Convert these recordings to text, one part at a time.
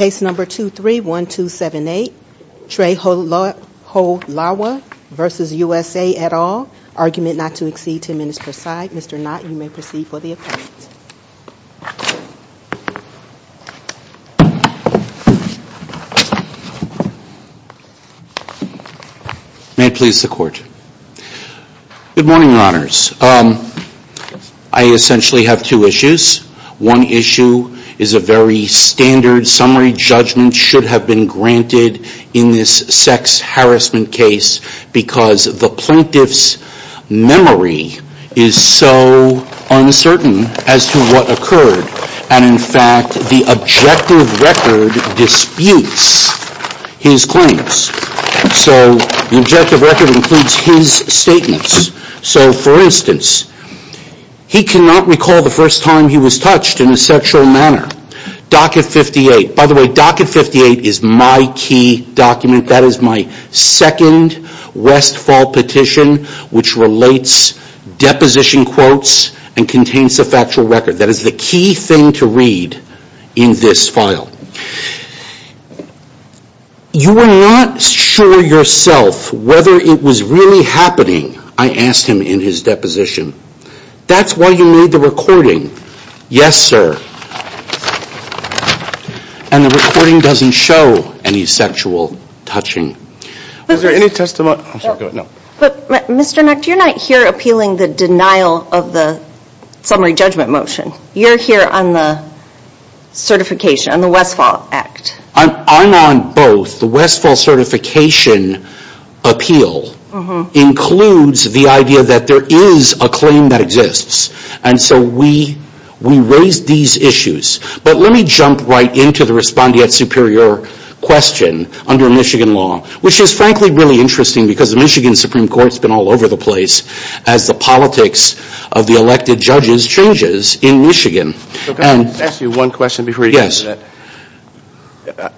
Case number 231278, Trey Cholewa v. USA et al., argument not to exceed 10 minutes per side. Mr. Knott, you may proceed for the appellant. May it please the Court. Good morning, Your Honors. I essentially have two issues. One issue is a very standard summary judgment should have been granted in this sex harassment case because the plaintiff's memory is so uncertain as to what occurred. And in fact, the objective record disputes his claims. So the objective record includes his statements. So for instance, he cannot recall the first time he was touched in a sexual manner. Docket 58. By the way, Docket 58 is my key document. That is my second Westfall petition which relates deposition quotes and contains the factual record. That is the key thing to read in this file. You were not sure yourself whether it was really happening, I asked him in his deposition. That's why you made the recording. Yes, sir. And the recording doesn't show any sexual touching. Is there any testimony? Mr. Knott, you're not here appealing the denial of the summary judgment motion. You're here on the Westfall Act. I'm on both. The Westfall certification appeal includes the idea that there is a claim that exists. And so we raised these issues. But let me jump right into the respondeat superior question under Michigan law which is frankly really interesting because the Michigan Supreme Court has been all over the place as the politics of the elected judges changes in Michigan.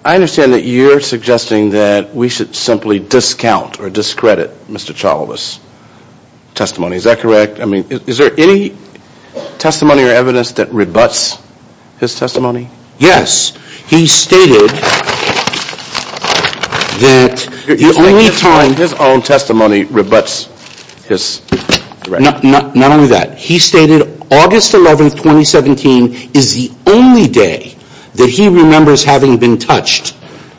I understand that you're suggesting that we should simply discount or discredit Mr. Chawla's testimony. Is that correct? Is there any testimony or evidence that rebutts his testimony? Yes. He stated that the only time... His own testimony rebutts his... Not only that. He stated August 11th, 2017 is the only day that he remembers having been touched.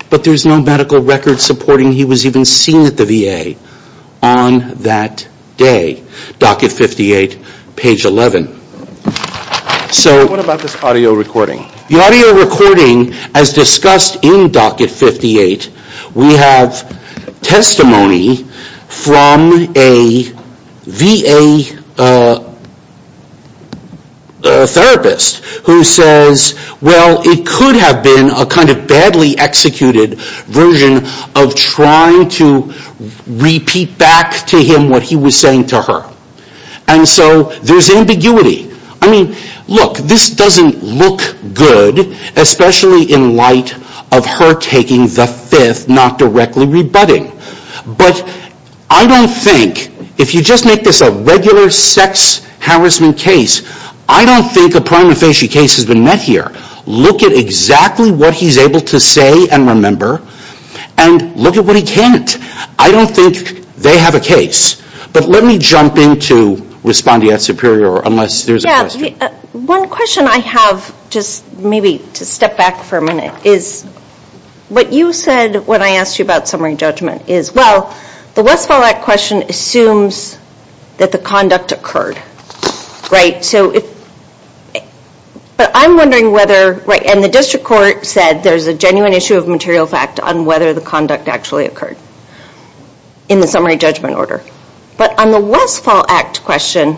But there's no medical record supporting he was even seen at the VA on that day. Docket 58, page 11. So... What about this audio recording? The audio recording as discussed in Docket 58 we have testimony from a VA therapist who says, well it could have been a kind of badly executed version of trying to repeat back to him what he was saying to her. And so there's ambiguity. I mean, look, this doesn't look good especially in light of her taking the fifth not directly rebutting. But I don't think, if you just make this a regular sex harassment case, I don't think a prima facie case has been met here. Look at exactly what he's able to say and remember and look at what he can't. I don't think they have a case. But let me jump into responding at Superior unless there's a question. Yeah. One question I have just maybe to step back for a minute is what you said when I asked you about summary judgment is, well, the Westfall Act question assumes that the conduct occurred, right? So if... But I'm wondering whether... And the district court said there's a genuine issue of material fact on whether the conduct actually occurred in the summary judgment order. But on the Westfall Act question,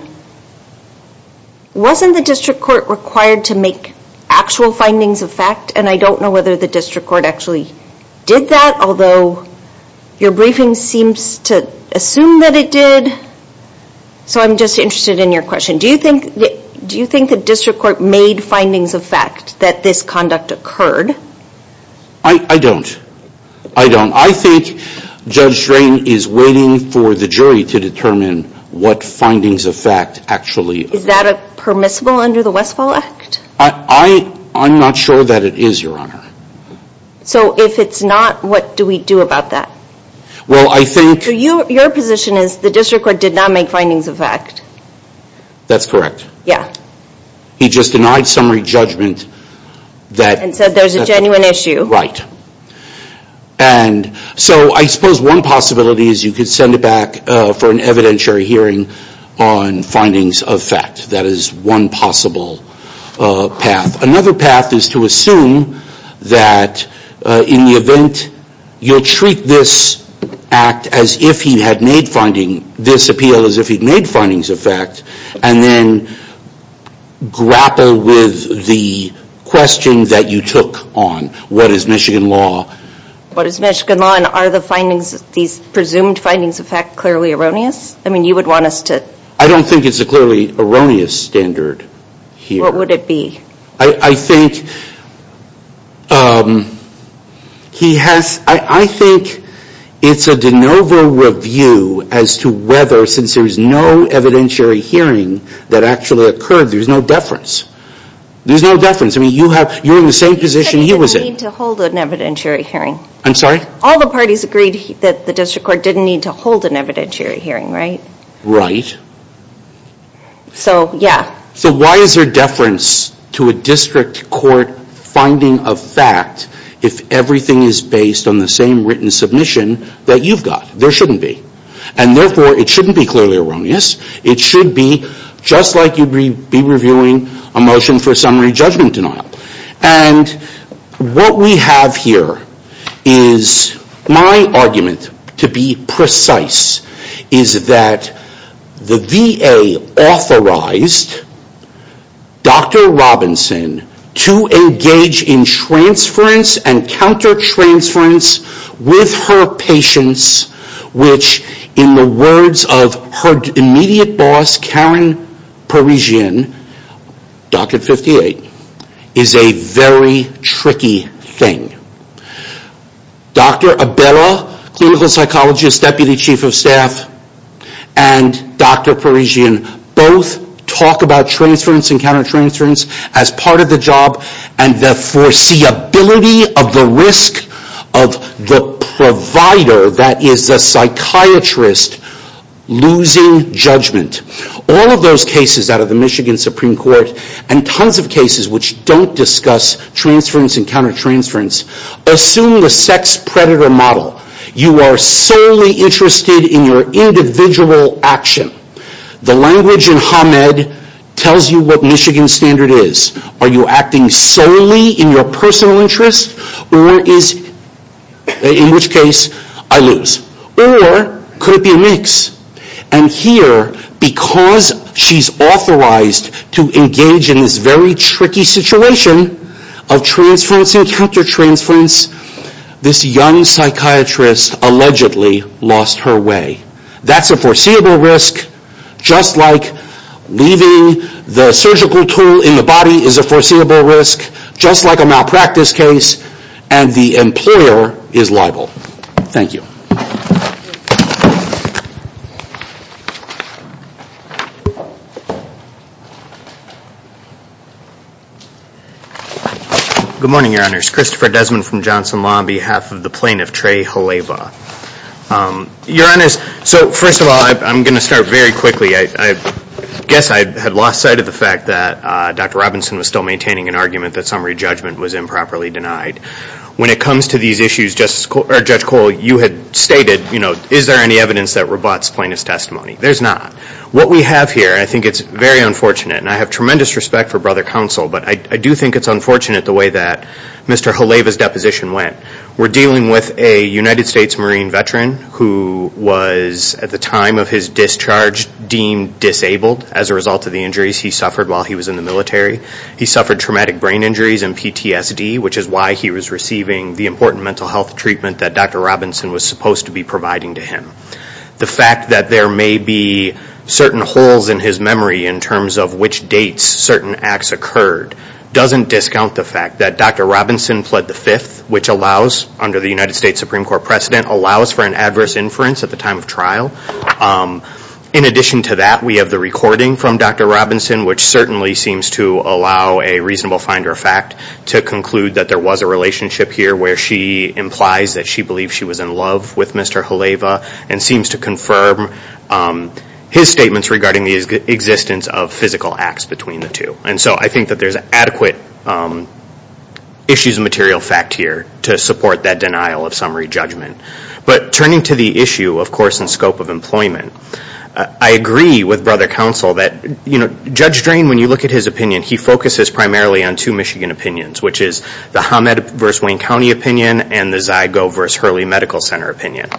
wasn't the district court required to make actual findings of fact? And I don't know whether the district court actually did that, although your briefing seems to assume that it did. So I'm just interested in your question. Do you think the district court made findings of fact that this conduct occurred? I don't. I don't. I think Judge Strain is waiting for the jury to determine what findings of fact actually occurred. Is that permissible under the Westfall Act? I'm not sure that it is, Your Honor. So if it's not, what do we do about that? Well, I think... So your position is the district court did not make findings of fact. That's correct. Yeah. He just denied summary judgment that... And said there's a genuine issue. Right. And so I suppose one possibility is you could send it back for an evidentiary hearing on findings of fact. That is one possible path. Another path is to assume that in the event you'll treat this act as if he had made finding this appeal as if he'd made findings of fact, and then grapple with the question that you took on. What is Michigan law? What is Michigan law? And are the findings, these presumed findings of fact, clearly erroneous? I mean, you would want us to... I don't think it's a clearly erroneous standard here. What would it be? I think he has... I think it's a de novo review as to whether, since there's no evidentiary hearing that actually occurred, there's no deference. There's no deference. I mean, you have... You're in the same position he was in. He said he didn't need to hold an evidentiary hearing. I'm sorry? All the parties agreed that the district court didn't need to hold an evidentiary hearing, right? Right. So yeah. So why is there deference to a district court finding of fact if everything is based on the same written submission that you've got? There shouldn't be. And therefore, it shouldn't be clearly erroneous. It should be just like you'd be reviewing a motion for summary judgment denial. And what we have here is my argument, to be precise, is that the VA authorized Dr. Robinson to engage in transference and counter-transference with her patients, which, in the words of her immediate boss, Karen Parisian, Dr. 58, is a very tricky thing. Dr. Abella, clinical psychologist, deputy chief of staff, and Dr. Parisian both talk about transference and counter-transference as part of the job and the foreseeability of the risk of the provider, that is the psychiatrist, losing judgment. All of those cases out of the Michigan Supreme Court, and tons of cases which don't discuss transference and counter-transference, assume the sex predator model. You are solely interested in your individual action. The language in Med tells you what Michigan standard is. Are you acting solely in your personal interest, or is, in which case, I lose. Or could it be a mix? And here, because she's authorized to engage in this very tricky situation of transference and counter-transference, this young psychiatrist allegedly lost her way. That's a foreseeable risk, just like leaving the surgical tool in the body is a foreseeable risk, just like a malpractice case, and the Superior is liable. Thank you. Good morning, Your Honors. Christopher Desmond from Johnson Law on behalf of the plaintiff, Trey Haleba. Your Honors, so first of all, I'm going to start very quickly. I guess I had lost sight of the fact that Dr. Robinson was still maintaining an argument that summary to these issues, Judge Cole, you had stated, you know, is there any evidence that rebutts plaintiff's testimony? There's not. What we have here, I think it's very unfortunate, and I have tremendous respect for brother counsel, but I do think it's unfortunate the way that Mr. Haleba's deposition went. We're dealing with a United States Marine veteran who was, at the time of his discharge, deemed disabled as a result of the injuries he suffered while he was in the military. He suffered traumatic brain injuries and PTSD, which is why he was receiving the important mental health treatment that Dr. Robinson was supposed to be providing to him. The fact that there may be certain holes in his memory in terms of which dates certain acts occurred doesn't discount the fact that Dr. Robinson pled the fifth, which allows, under the United States Supreme Court precedent, allows for an adverse inference at the time of trial. In addition to that, we have the recording from Dr. Robinson, which certainly seems to allow a reasonable finder of fact to conclude that there was a relationship here where she implies that she believes she was in love with Mr. Haleba and seems to confirm his statements regarding the existence of physical acts between the two. And so I think that there's adequate issues of material fact here to support that denial of summary judgment. But turning to the issue, of course, in scope of employment, I agree with Brother Counsel that, you know, Judge Drain, when you look at his opinion, he focuses primarily on two Michigan opinions, which is the Hamed v. Wayne County opinion and the Zygo v. Hurley Medical Center opinion.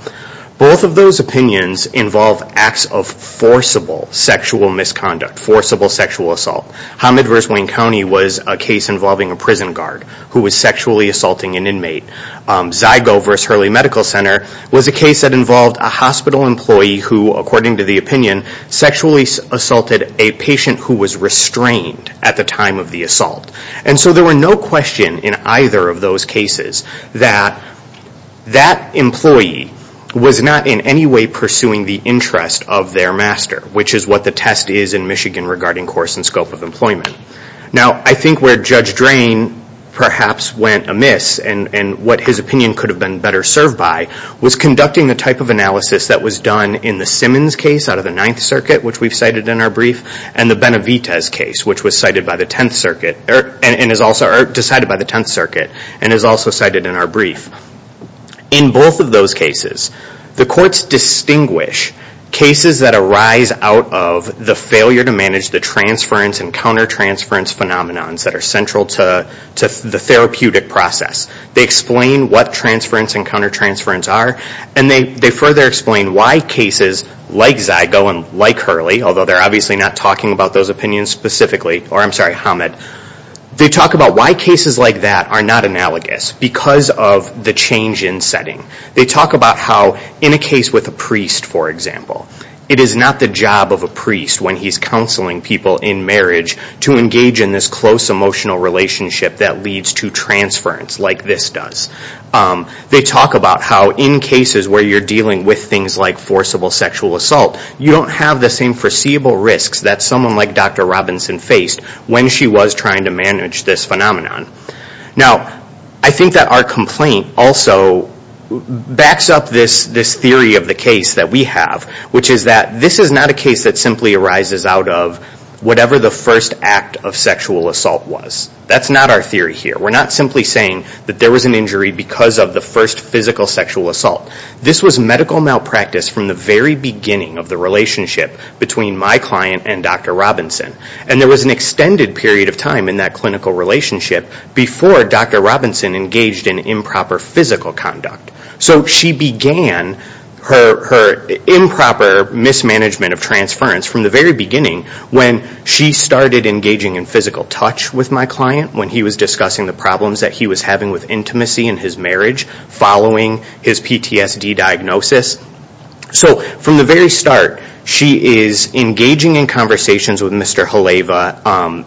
Both of those opinions involve acts of forcible sexual misconduct, forcible sexual assault. Hamed v. Wayne County was a case involving a prison guard who was sexually assaulting an inmate. Zygo v. Hurley Medical Center was a case that involved a hospital employee who, according to the opinion, sexually assaulted a patient who was restrained at the time of the assault. And so there were no question in either of those cases that that employee was not in any way pursuing the interest of their master, which is what the test is in Michigan regarding course and scope of employment. Now I think where Judge Drain perhaps went amiss and what his opinion could have been better served by was conducting the type of analysis that was done in the Simmons case out of the Ninth Circuit, which we've cited in our brief, and the Benavides case, which was cited by the Tenth Circuit and is also cited in our brief. In both of those cases, the courts distinguish cases that arise out of the failure to manage the transference and countertransference phenomenons that are central to the therapeutic process. They explain what transference and countertransference are, and they further explain why cases like Zygo and like Hurley, although they're obviously not talking about those opinions specifically, or I'm sorry, Hamed, they talk about why cases like that are not analogous because of the change in setting. They talk about how in a case with a priest, for example, it is not the job of a priest when he's counseling people in marriage to engage in this close emotional relationship that leads to transference like this does. They talk about how in cases where you're dealing with things like forcible sexual assault, you don't have the same foreseeable risks that someone like Dr. Robinson faced when she was trying to manage this phenomenon. Now I think that our complaint also backs up this theory of the case that we have, which is that this is not a case that simply arises out of whatever the first act of sexual assault was. That's not our theory here. We're not simply saying that there was an injury because of the first physical sexual assault. This was medical malpractice from the very beginning of the relationship between my client and Dr. Robinson, and there was an extended period of time in that clinical relationship before Dr. Robinson engaged in improper physical conduct. So she began her improper mismanagement of transference from the very beginning when she started engaging in physical touch with my client when he was discussing the problems that he was having with intimacy in his marriage following his PTSD diagnosis. So from the very start, she is engaging in conversations with Mr. Haleva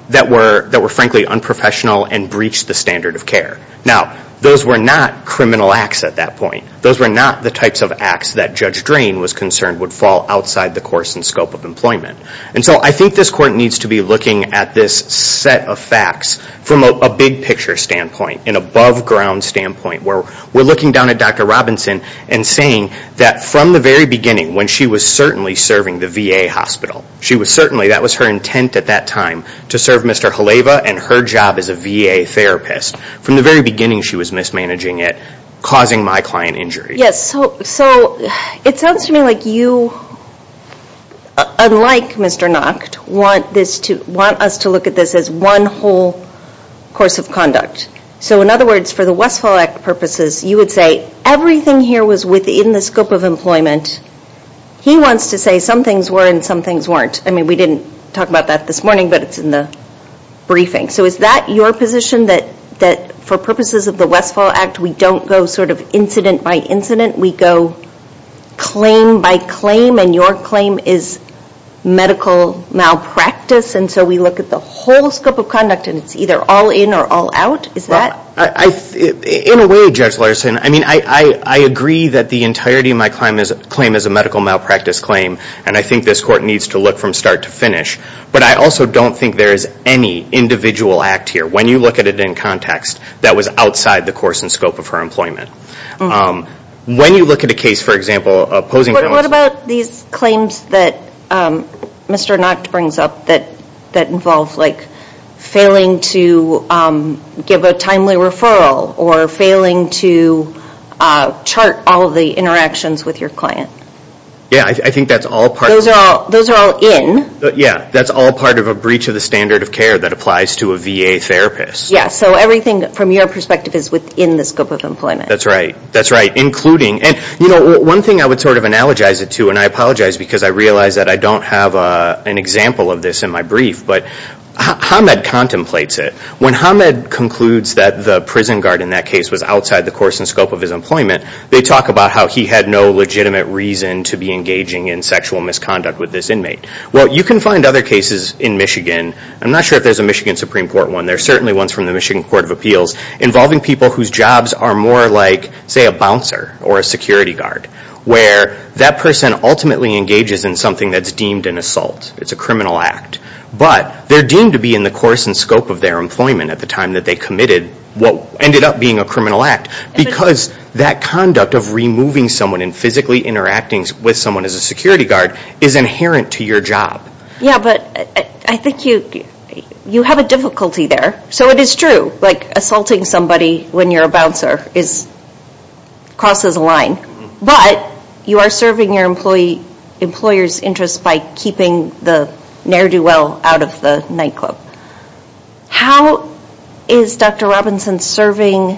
that were frankly unprofessional and breached the standard of care. Now those were not criminal acts at that point. Those were not the types of acts that Judge Drain was concerned would fall outside the course and scope of employment. And so I think this court needs to be looking at this set of facts from a big picture standpoint, an above ground standpoint where we're looking down at Dr. Robinson and saying that from the very beginning when she was certainly serving the VA hospital, she was certainly, that was her intent at that time, to serve Mr. Haleva and her job as a VA therapist. From the very beginning she was mismanaging it, causing my client injury. Yes. So it sounds to me like you, unlike Mr. Nacht, want us to look at this as one whole course of conduct. So in other words, for the Westfall Act purposes, you would say everything here was within the scope of employment. He wants to say some things were and some things weren't. I mean we didn't talk about that this morning, but it's in the briefing. So is that your position that for purposes of the Westfall Act we don't go sort of incident by incident? We go claim by claim and your claim is medical malpractice? And so we look at the whole scope of conduct and it's either all in or all out? Is that? In a way, Judge Larson, I agree that the entirety of my claim is a medical malpractice claim and I think this court needs to look from start to finish. But I also don't think there is any individual act here, when you look at it in context, that was outside the course and scope of her employment. When you look at a case, for example, opposing... What about these claims that Mr. Nacht brings up that involve like failing to give a timely referral or failing to chart all of the interactions with your client? Yeah, I think that's all part of... Those are all in? Yeah, that's all part of a breach of the standard of care that applies to a VA therapist. Yeah, so everything from your perspective is within the scope of employment. That's right, that's right, including... And you know, one thing I would sort of analogize it to, and I apologize because I realize that I don't have an example of this in my brief, but Hamed contemplates it. When Hamed concludes that the prison guard in that case was outside the course and scope of his employment, they talk about how he had no legitimate reason to be engaging in sexual misconduct with this inmate. Well, you can find other cases in Michigan. I'm not sure if there's a Michigan Supreme Court one. There's certainly ones from the Michigan Court of Appeals involving people whose jobs are more like, say, a bouncer or a security guard, where that person ultimately engages in something that's deemed an assault. It's a criminal act, but they're deemed to be in the course and scope of their employment at the time that they committed what ended up being a criminal act because that conduct of removing someone and physically interacting with someone as a security guard is inherent to your job. Yeah, but I think you have a difficulty there. So it is true, like assaulting somebody when you're a bouncer crosses a line, but you are serving your employer's interest by keeping the ne'er-do-well out of the nightclub. How is Dr. Robinson serving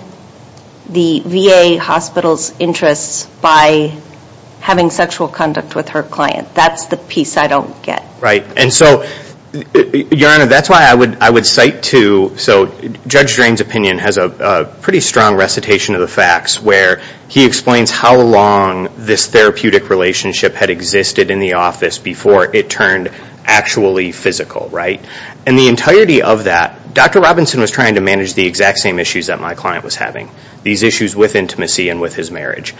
the VA hospital's interests by having sexual conduct with her client? That's the piece I don't get. Right. And so, Your Honor, that's why I would cite to, so Judge Drain's opinion has a pretty strong recitation of the facts where he explains how long this therapeutic relationship had existed in the office before it turned actually physical, right? And the entirety of that, Dr. Robinson was trying to manage the exact same issues that my client was having, these issues with intimacy and with his marriage.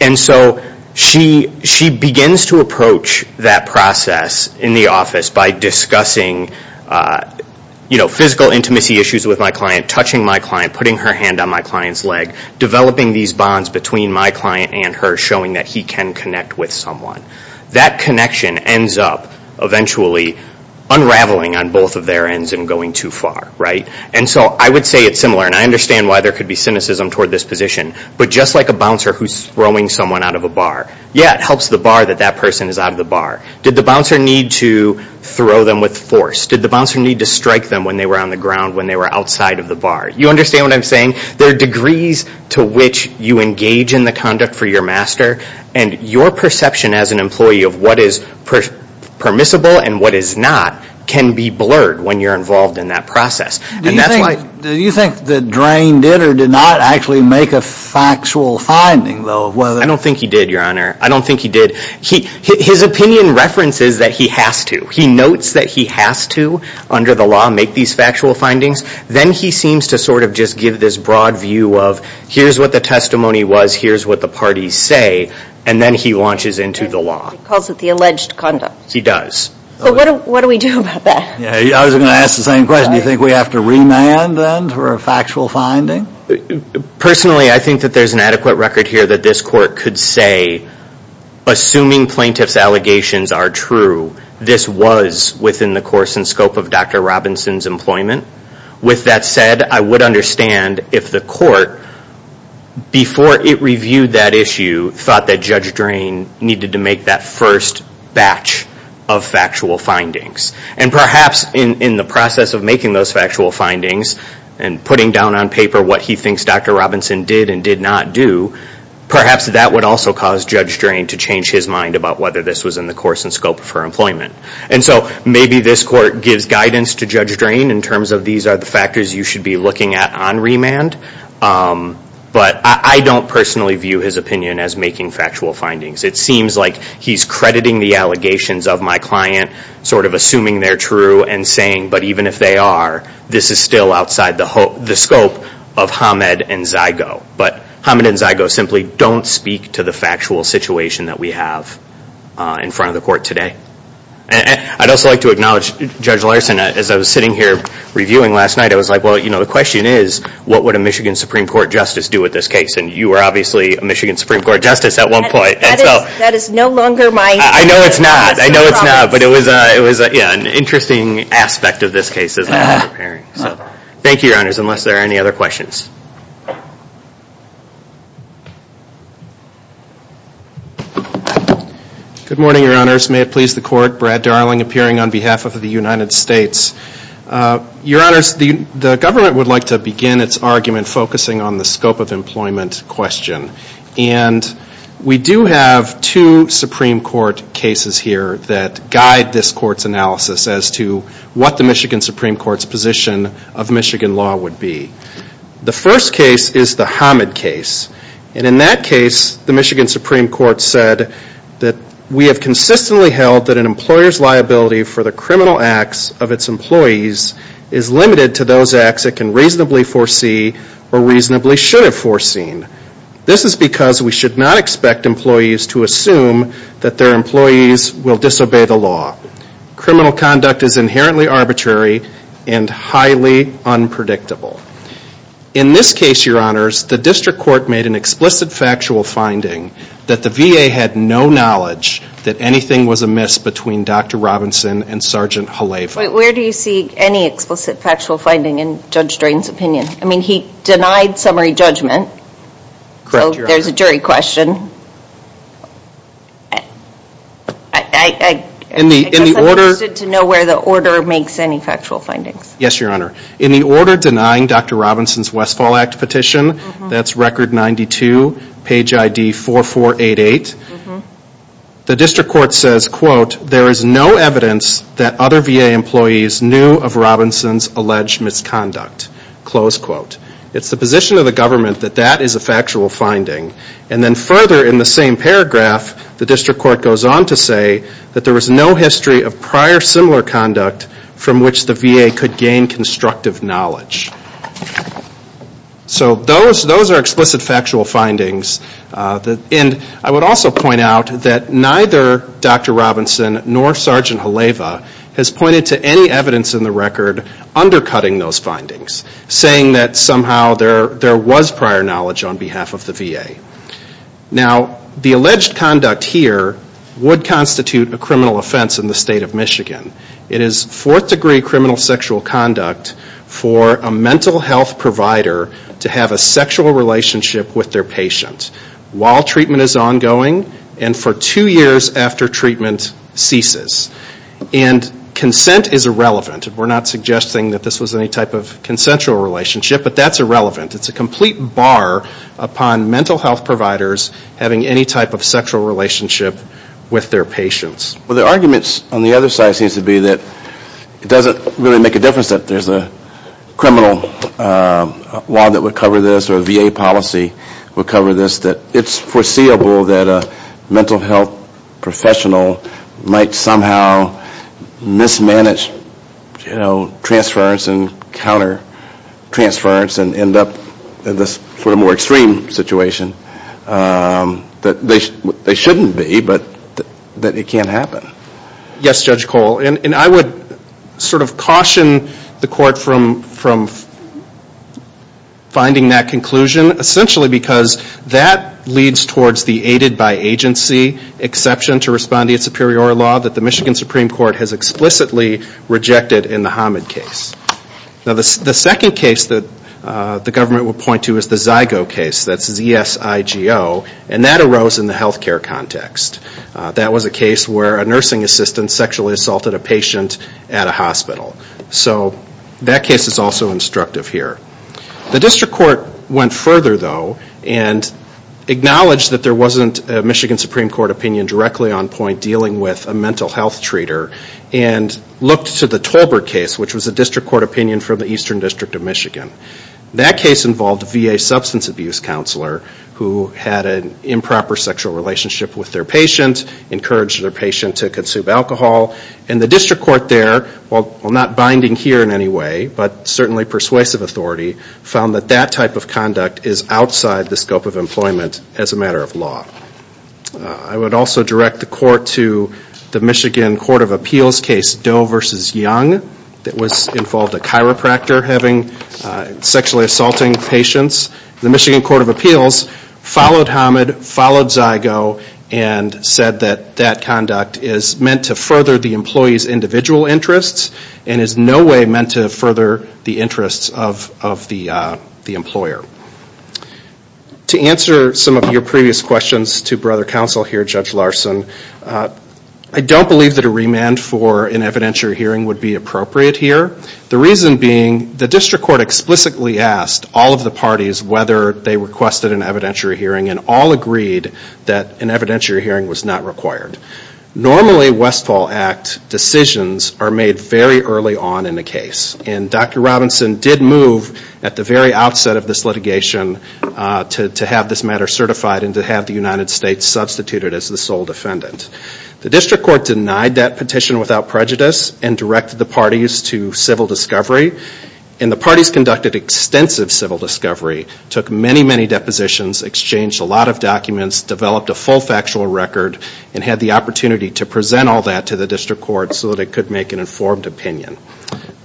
And so she begins to approach that process in the office by discussing physical intimacy issues with my client, touching my client, putting her hand on my client's leg, developing these bonds between my client and her, showing that he can connect with someone. That connection ends up eventually unraveling on both of their ends and going too far, right? And so I would say it's similar, and I understand why there would be cynicism toward this position, but just like a bouncer who's throwing someone out of a bar. Yeah, it helps the bar that that person is out of the bar. Did the bouncer need to throw them with force? Did the bouncer need to strike them when they were on the ground, when they were outside of the bar? You understand what I'm saying? There are degrees to which you engage in the conduct for your master, and your perception as an employee of what is permissible and what is not can be blurred when you're involved in that process. And that's why... Do you think that Drain did or did not actually make a factual finding, though, of whether... I don't think he did, Your Honor. I don't think he did. His opinion references that he has to. He notes that he has to, under the law, make these factual findings. Then he seems to sort of just give this broad view of, here's what the testimony was, here's what the parties say, and then he launches into the law. He calls it the alleged conduct. He does. But what do we do about that? I was going to ask the same question. Do you think we have to remand, then, for a factual finding? Personally, I think that there's an adequate record here that this court could say, assuming plaintiff's allegations are true, this was within the course and scope of Dr. Robinson's employment. With that said, I would understand if the court, before it reviewed that issue, thought that Judge Drain needed to make that first batch of factual findings. Perhaps in the process of making those factual findings and putting down on paper what he thinks Dr. Robinson did and did not do, perhaps that would also cause Judge Drain to change his mind about whether this was in the course and scope of her employment. Maybe this court gives guidance to Judge Drain in terms of, these are the factors you should be looking at on remand. But I don't personally view his opinion as making factual findings. It seems like he's crediting the allegations of my client, sort of assuming they're true, and saying, but even if they are, this is still outside the scope of Hamed and Zygo. But Hamed and Zygo simply don't speak to the factual situation that we have in front of the court today. I'd also like to acknowledge Judge Larson. As I was sitting here reviewing last night, I was like, well, the question is, what would a Michigan Supreme Court Justice do with this case? You were obviously a Michigan Supreme Court Justice at one point. That is no longer my... I know it's not. I know it's not. But it was an interesting aspect of this case as I was preparing. Thank you, Your Honors. Unless there are any other questions. Good morning, Your Honors. May it please the Court. Brad Darling appearing on behalf of the United States. Your Honors, the government would like to begin its argument focusing on the scope of employment question. And we do have two Supreme Court cases here that guide this Court's analysis as to what the Michigan Supreme Court's position of Michigan law would be. The first case is the Hamed case. And in that case, the Michigan Supreme Court said that we have consistently held that an employer's liability for the criminal acts of its employees is limited to those acts it can reasonably foresee or reasonably should have foreseen. This is because we should not expect employees to assume that their employees will disobey the law. Criminal conduct is inherently arbitrary and highly unpredictable. In this case, Your Honors, the district court made an explicit factual finding that the VA had no knowledge that anything was amiss between Dr. Robinson and Sgt. Haleva. Wait, where do you see any explicit factual finding in Judge Drain's opinion? I mean, he denied summary judgment. Correct, Your Honor. So there's a jury question. I guess I'm interested to know where the order makes any factual findings. Yes, Your Honor. In the order denying Dr. Robinson's Westfall Act petition, that's record 92, page ID 4488, the district court says, quote, there is no evidence that other VA employees knew of Robinson's alleged misconduct, close quote. It's the position of the government that that is a factual finding. And then further in the same paragraph, the district court goes on to say that there was no history of prior similar conduct from which the VA could gain constructive knowledge. So those are explicit factual findings. And I would also point out that neither Dr. Robinson nor Sgt. Haleva has pointed to any evidence in the record undercutting those findings, saying that somehow there was prior knowledge on behalf of the VA. Now, the alleged conduct here would constitute a criminal offense in the state of Michigan. It is fourth degree criminal sexual conduct for a mental health provider to have a sexual relationship with their patient while treatment is ongoing and for two years after treatment ceases. And consent is irrelevant. We're not suggesting that this was any type of consensual relationship, but that's irrelevant. It's a complete bar upon mental health providers having any type of sexual relationship with their patients. Well, the arguments on the other side seems to be that it doesn't really make a difference that there's a criminal law that would cover this or a VA policy would cover this, that it's foreseeable that a mental health professional might somehow mismanage, you know, transference and counter transference and end up in this sort of more extreme situation that they shouldn't be, but that it can't happen. Yes, Judge Cole. And I would sort of caution the court from finding that conclusion, essentially because that leads towards the aided by agency exception to respond to your superior law that the Michigan The second case that the government would point to is the Zygo case, that's Z-I-G-O, and that arose in the health care context. That was a case where a nursing assistant sexually assaulted a patient at a hospital. So that case is also instructive here. The district court went further, though, and acknowledged that there wasn't a Michigan Supreme Court opinion directly on point dealing with a mental health treater and looked to the Tolbert case, which was a district court opinion from the Eastern District of Michigan. That case involved a VA substance abuse counselor who had an improper sexual relationship with their patient, encouraged their patient to consume alcohol, and the district court there, while not binding here in any way, but certainly persuasive authority, found that that type of conduct is outside the scope of employment as a matter of law. I would also direct the court to the Michigan Court of Appeals case Doe v. Young that involved a chiropractor having sexually assaulting patients. The Michigan Court of Appeals followed Hamid, followed Zygo, and said that that conduct is meant to further the employee's individual interests and is no way meant to further the interests of the employer. To answer some of your previous questions to brother counsel here, Judge Larson, I don't believe that a remand for an evidentiary hearing would be appropriate here. The reason being, the district court explicitly asked all of the parties whether they requested an evidentiary hearing and all agreed that an evidentiary hearing was not required. Normally, Westfall Act decisions are made very early on in a case, and Dr. Robinson did move at the very outset of this litigation to have this matter certified and to have the United States substituted as the sole defendant. The district court denied that petition without prejudice and directed the parties to civil discovery. The parties conducted extensive civil discovery, took many, many depositions, exchanged a lot of documents, developed a full factual record, and had the opportunity to present all that to the district court so that it could make an informed opinion.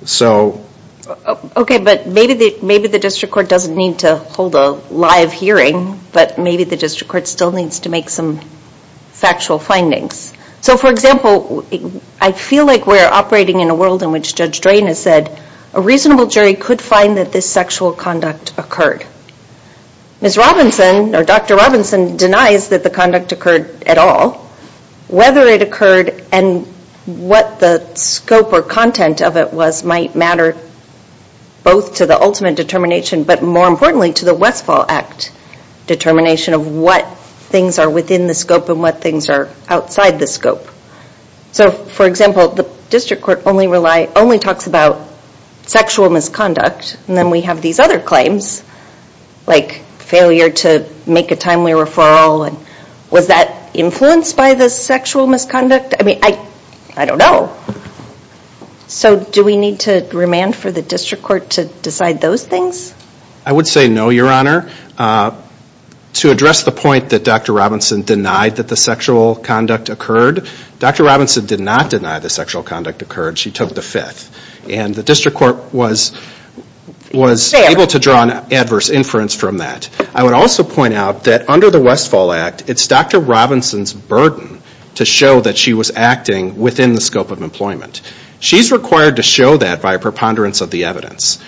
Okay, but maybe the district court doesn't need to hold a live hearing, but maybe the district court still needs to make some factual findings. For example, I feel like we're operating in a world in which Judge Drain has said a reasonable jury could find that this sexual conduct occurred. Ms. Robinson, or Dr. Robinson, denies that the conduct occurred at all. Whether it occurred and what the scope or content of it was might matter both to the ultimate determination, but more importantly to the Westfall Act determination of what things are within the scope and what things are outside the scope. For example, the district court only talks about sexual misconduct, and then we have these other claims, like failure to make a timely referral. Was that influenced by the sexual misconduct? I mean, I don't know. So do we need to remand for the district court to decide those things? I would say no, Your Honor. To address the point that Dr. Robinson denied that the sexual conduct occurred, Dr. Robinson did not deny the sexual conduct occurred. She took the fifth. And the district court was able to draw an adverse inference from that. I would also point out that under the Westfall Act, it's Dr. Robinson's burden to show that she was acting within the scope of employment. She's required to show that by preponderance of the evidence.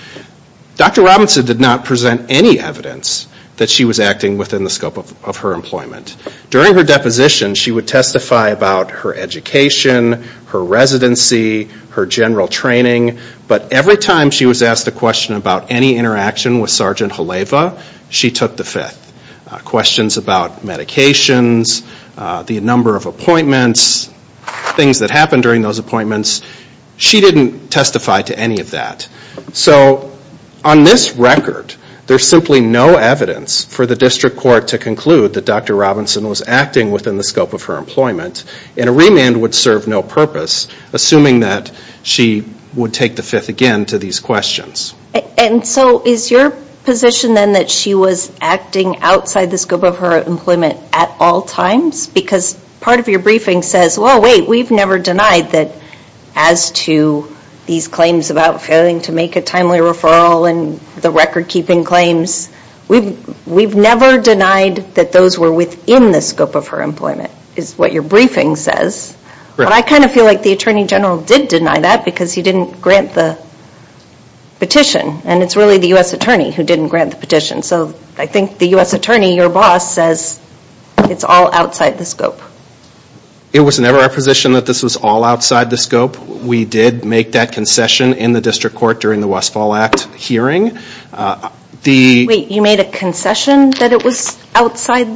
Dr. Robinson did not present any evidence that she was acting within the scope of her employment. During her deposition, she would testify about her education, her residency, her general training, but every time she was asked a question about any interaction with Sergeant Haleva, she took the fifth. Questions about medications, the number of appointments, things that happened during those appointments, she didn't testify to any of that. So on this record, there's simply no evidence for the district court to conclude that Dr. Robinson was acting within the scope of her employment, and a remand would serve no purpose assuming that she would take the fifth again to these questions. And so is your position then that she was acting outside the scope of her employment at all times? Because part of your briefing says, well, wait, we've never denied that as to these claims about failing to make a timely referral and the record keeping claims, we've never denied that those were within the scope of her employment, is what your briefing says. But I kind of feel like the Attorney General did deny that because he didn't grant the petition, and it's really the U.S. Attorney who didn't grant the petition. So I think the U.S. Attorney, your boss, says it's all outside the scope. It was never our position that this was all outside the scope. We did make that concession in the district court during the Westfall Act hearing. Wait, you made a concession that it was all outside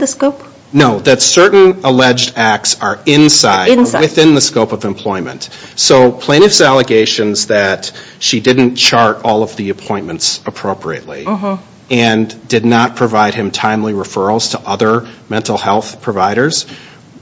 the scope? No, that certain alleged acts are inside, within the scope of employment. So plaintiff's allegations that she didn't chart all of the appointments appropriately and did not provide him timely referrals to other mental health providers,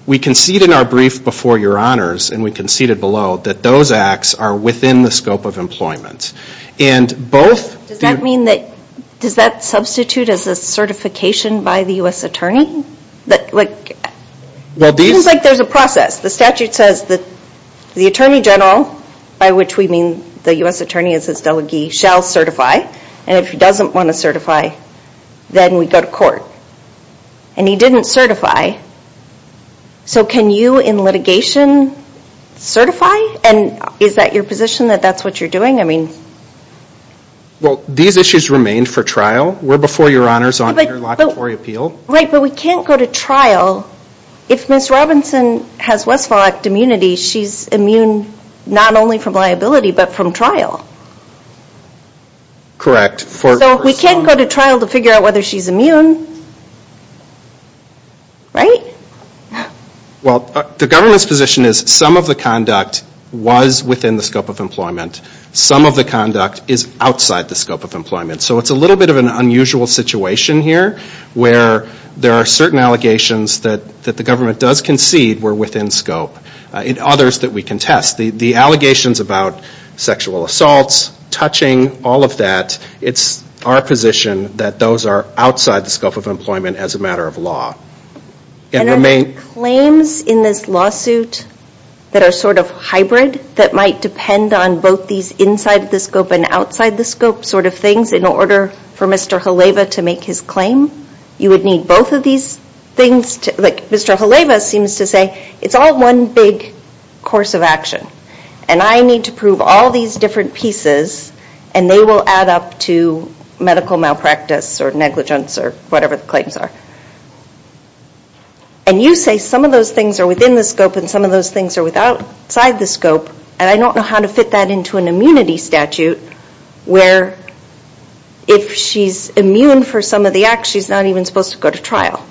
we conceded in our brief before your honors, and we conceded below, that those acts are within the scope of employment. And both... Does that mean that, does that substitute as a certification by the U.S. Attorney? It seems like there's a process. The statute says the Attorney General, by which we mean the U.S. Attorney as his delegee, shall certify, and if he doesn't want to certify, then we go to court. And he didn't certify. So can you, in litigation, certify? And is that your position, that that's what you're doing? Well, these issues remain for trial. We're before your honors on interlocutory appeal. Right, but we can't go to trial. If Ms. Robinson has Westfall Act immunity, she's immune not only from liability, but from trial. Correct. So we can't go to trial to figure out whether she's immune, right? Well, the government's position is some of the conduct was within the scope of employment. Some of the conduct is outside the scope of employment. So it's a little bit of an unusual situation here, where there are certain allegations that the government does concede were within scope, and others that we can test. The allegations about sexual assaults, touching, all of that, it's our position that those are outside the scope of employment as a matter of law. And are there claims in this lawsuit that are sort of hybrid, that might depend on both these inside the scope and outside the scope sort of things, in order for Mr. Haleva to make his claim? You would need both of these things to, like Mr. Haleva seems to say, it's all one big course of action. And I need to prove all these different pieces, and they will add up to medical malpractice or negligence or whatever the claims are. And you say some of those things are within the scope and some of those things are outside the scope, and I don't know how to fit that into an immunity statute, where if she's immune for some of the acts, she's not even supposed to go to trial.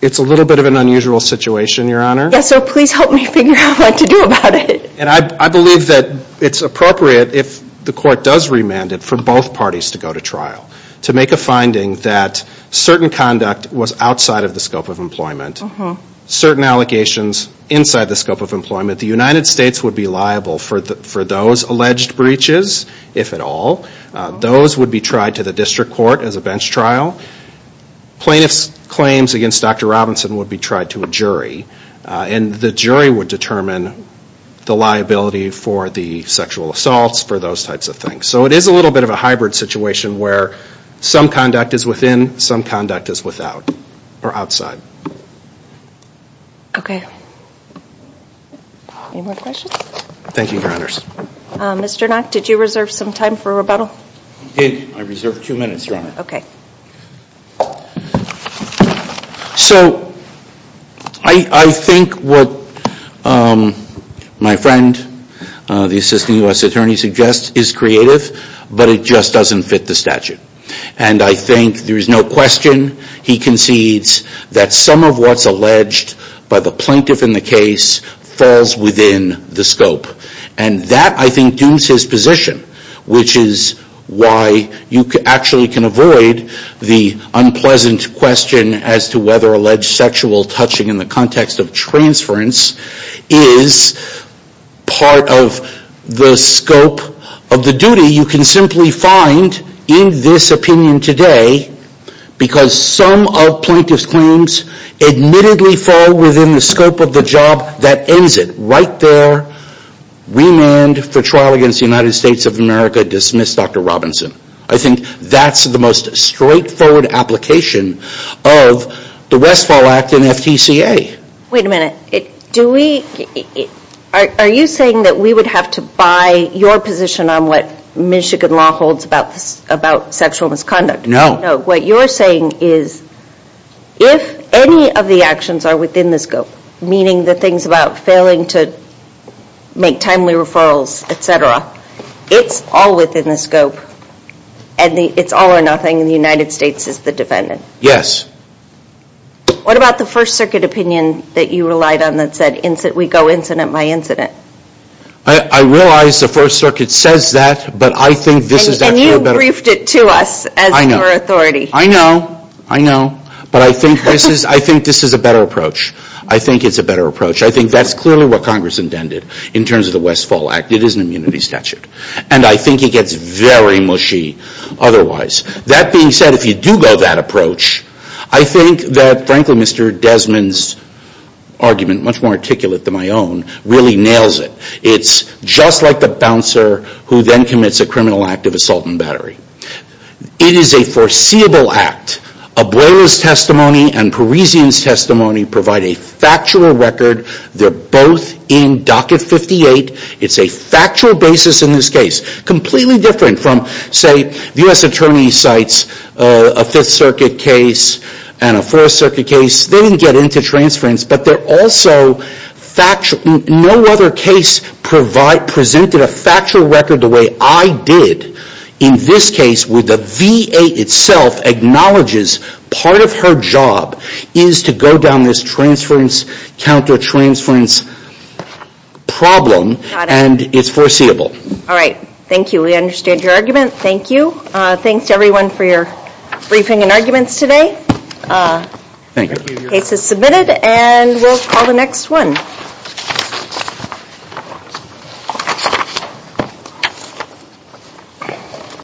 It's a little bit of an unusual situation, Your Honor. Yes, so please help me figure out what to do about it. And I believe that it's appropriate, if the court does remand it, for both parties to go to trial, to make a finding that certain conduct was outside of the scope of employment, certain allegations inside the scope of employment. The United States would be liable for those alleged breaches, if at all. Those would be tried to the district court as a bench trial. Plaintiff's claims against Dr. Robinson would be tried to a jury, and the jury would determine the liability for the sexual assaults, for those types of things. So it is a little bit of a hybrid situation, where some conduct is within, some conduct is without, or outside. OK. Any more questions? Thank you, Your Honors. Mr. Knack, did you reserve some time for rebuttal? I did. I reserved two minutes, Your Honor. OK. So, I think what my friend, the Assistant U.S. Attorney, suggests is creative, but it just doesn't fit the statute. And I think there is no question, he concedes, that some of what's alleged by the plaintiff in the case falls within the scope. And that, I think, dooms his position, which is why you actually can avoid the unpleasant question as to whether alleged sexual touching in the context of transference is part of the scope of the duty. You can simply find in this opinion today, because some of plaintiff's claims admittedly fall within the scope of the job, that ends it. Right there, remand for trial against the United States of America, dismiss Dr. Robinson. I think that's the most straightforward application of the Westfall Act and FTCA. Wait a minute, do we, are you saying that we would have to buy your position on what Michigan law holds about sexual misconduct? No. No, what you're saying is, if any of the actions are within the scope, meaning the things about failing to make timely referrals, etc., it's all within the scope, and it's all or nothing, and the United States is the defendant. Yes. What about the First Circuit opinion that you relied on that said, we go incident by incident? I realize the First Circuit says that, but I think this is actually a better- You briefed it to us as your authority. I know. I know. But I think this is a better approach. I think it's a better approach. I think that's clearly what Congress intended in terms of the Westfall Act. It is an immunity statute. And I think it gets very mushy otherwise. That being said, if you do go that approach, I think that, frankly, Mr. Desmond's argument, much more articulate than my own, really nails it. It's just like the bouncer who then commits a criminal act of assault and battery. It is a foreseeable act. A boiler's testimony and Parisian's testimony provide a factual record. They're both in Docket 58. It's a factual basis in this case. Completely different from, say, U.S. Attorney cites a Fifth Circuit case and a Fourth Circuit case. They didn't get into transference, but no other case presented a factual record the way I did in this case where the VA itself acknowledges part of her job is to go down this transference, counter-transference problem, and it's foreseeable. All right. Thank you. We understand your argument. Thank you. Thanks to everyone for your briefing and arguments today. Thank you. Case is submitted, and we'll call the next one.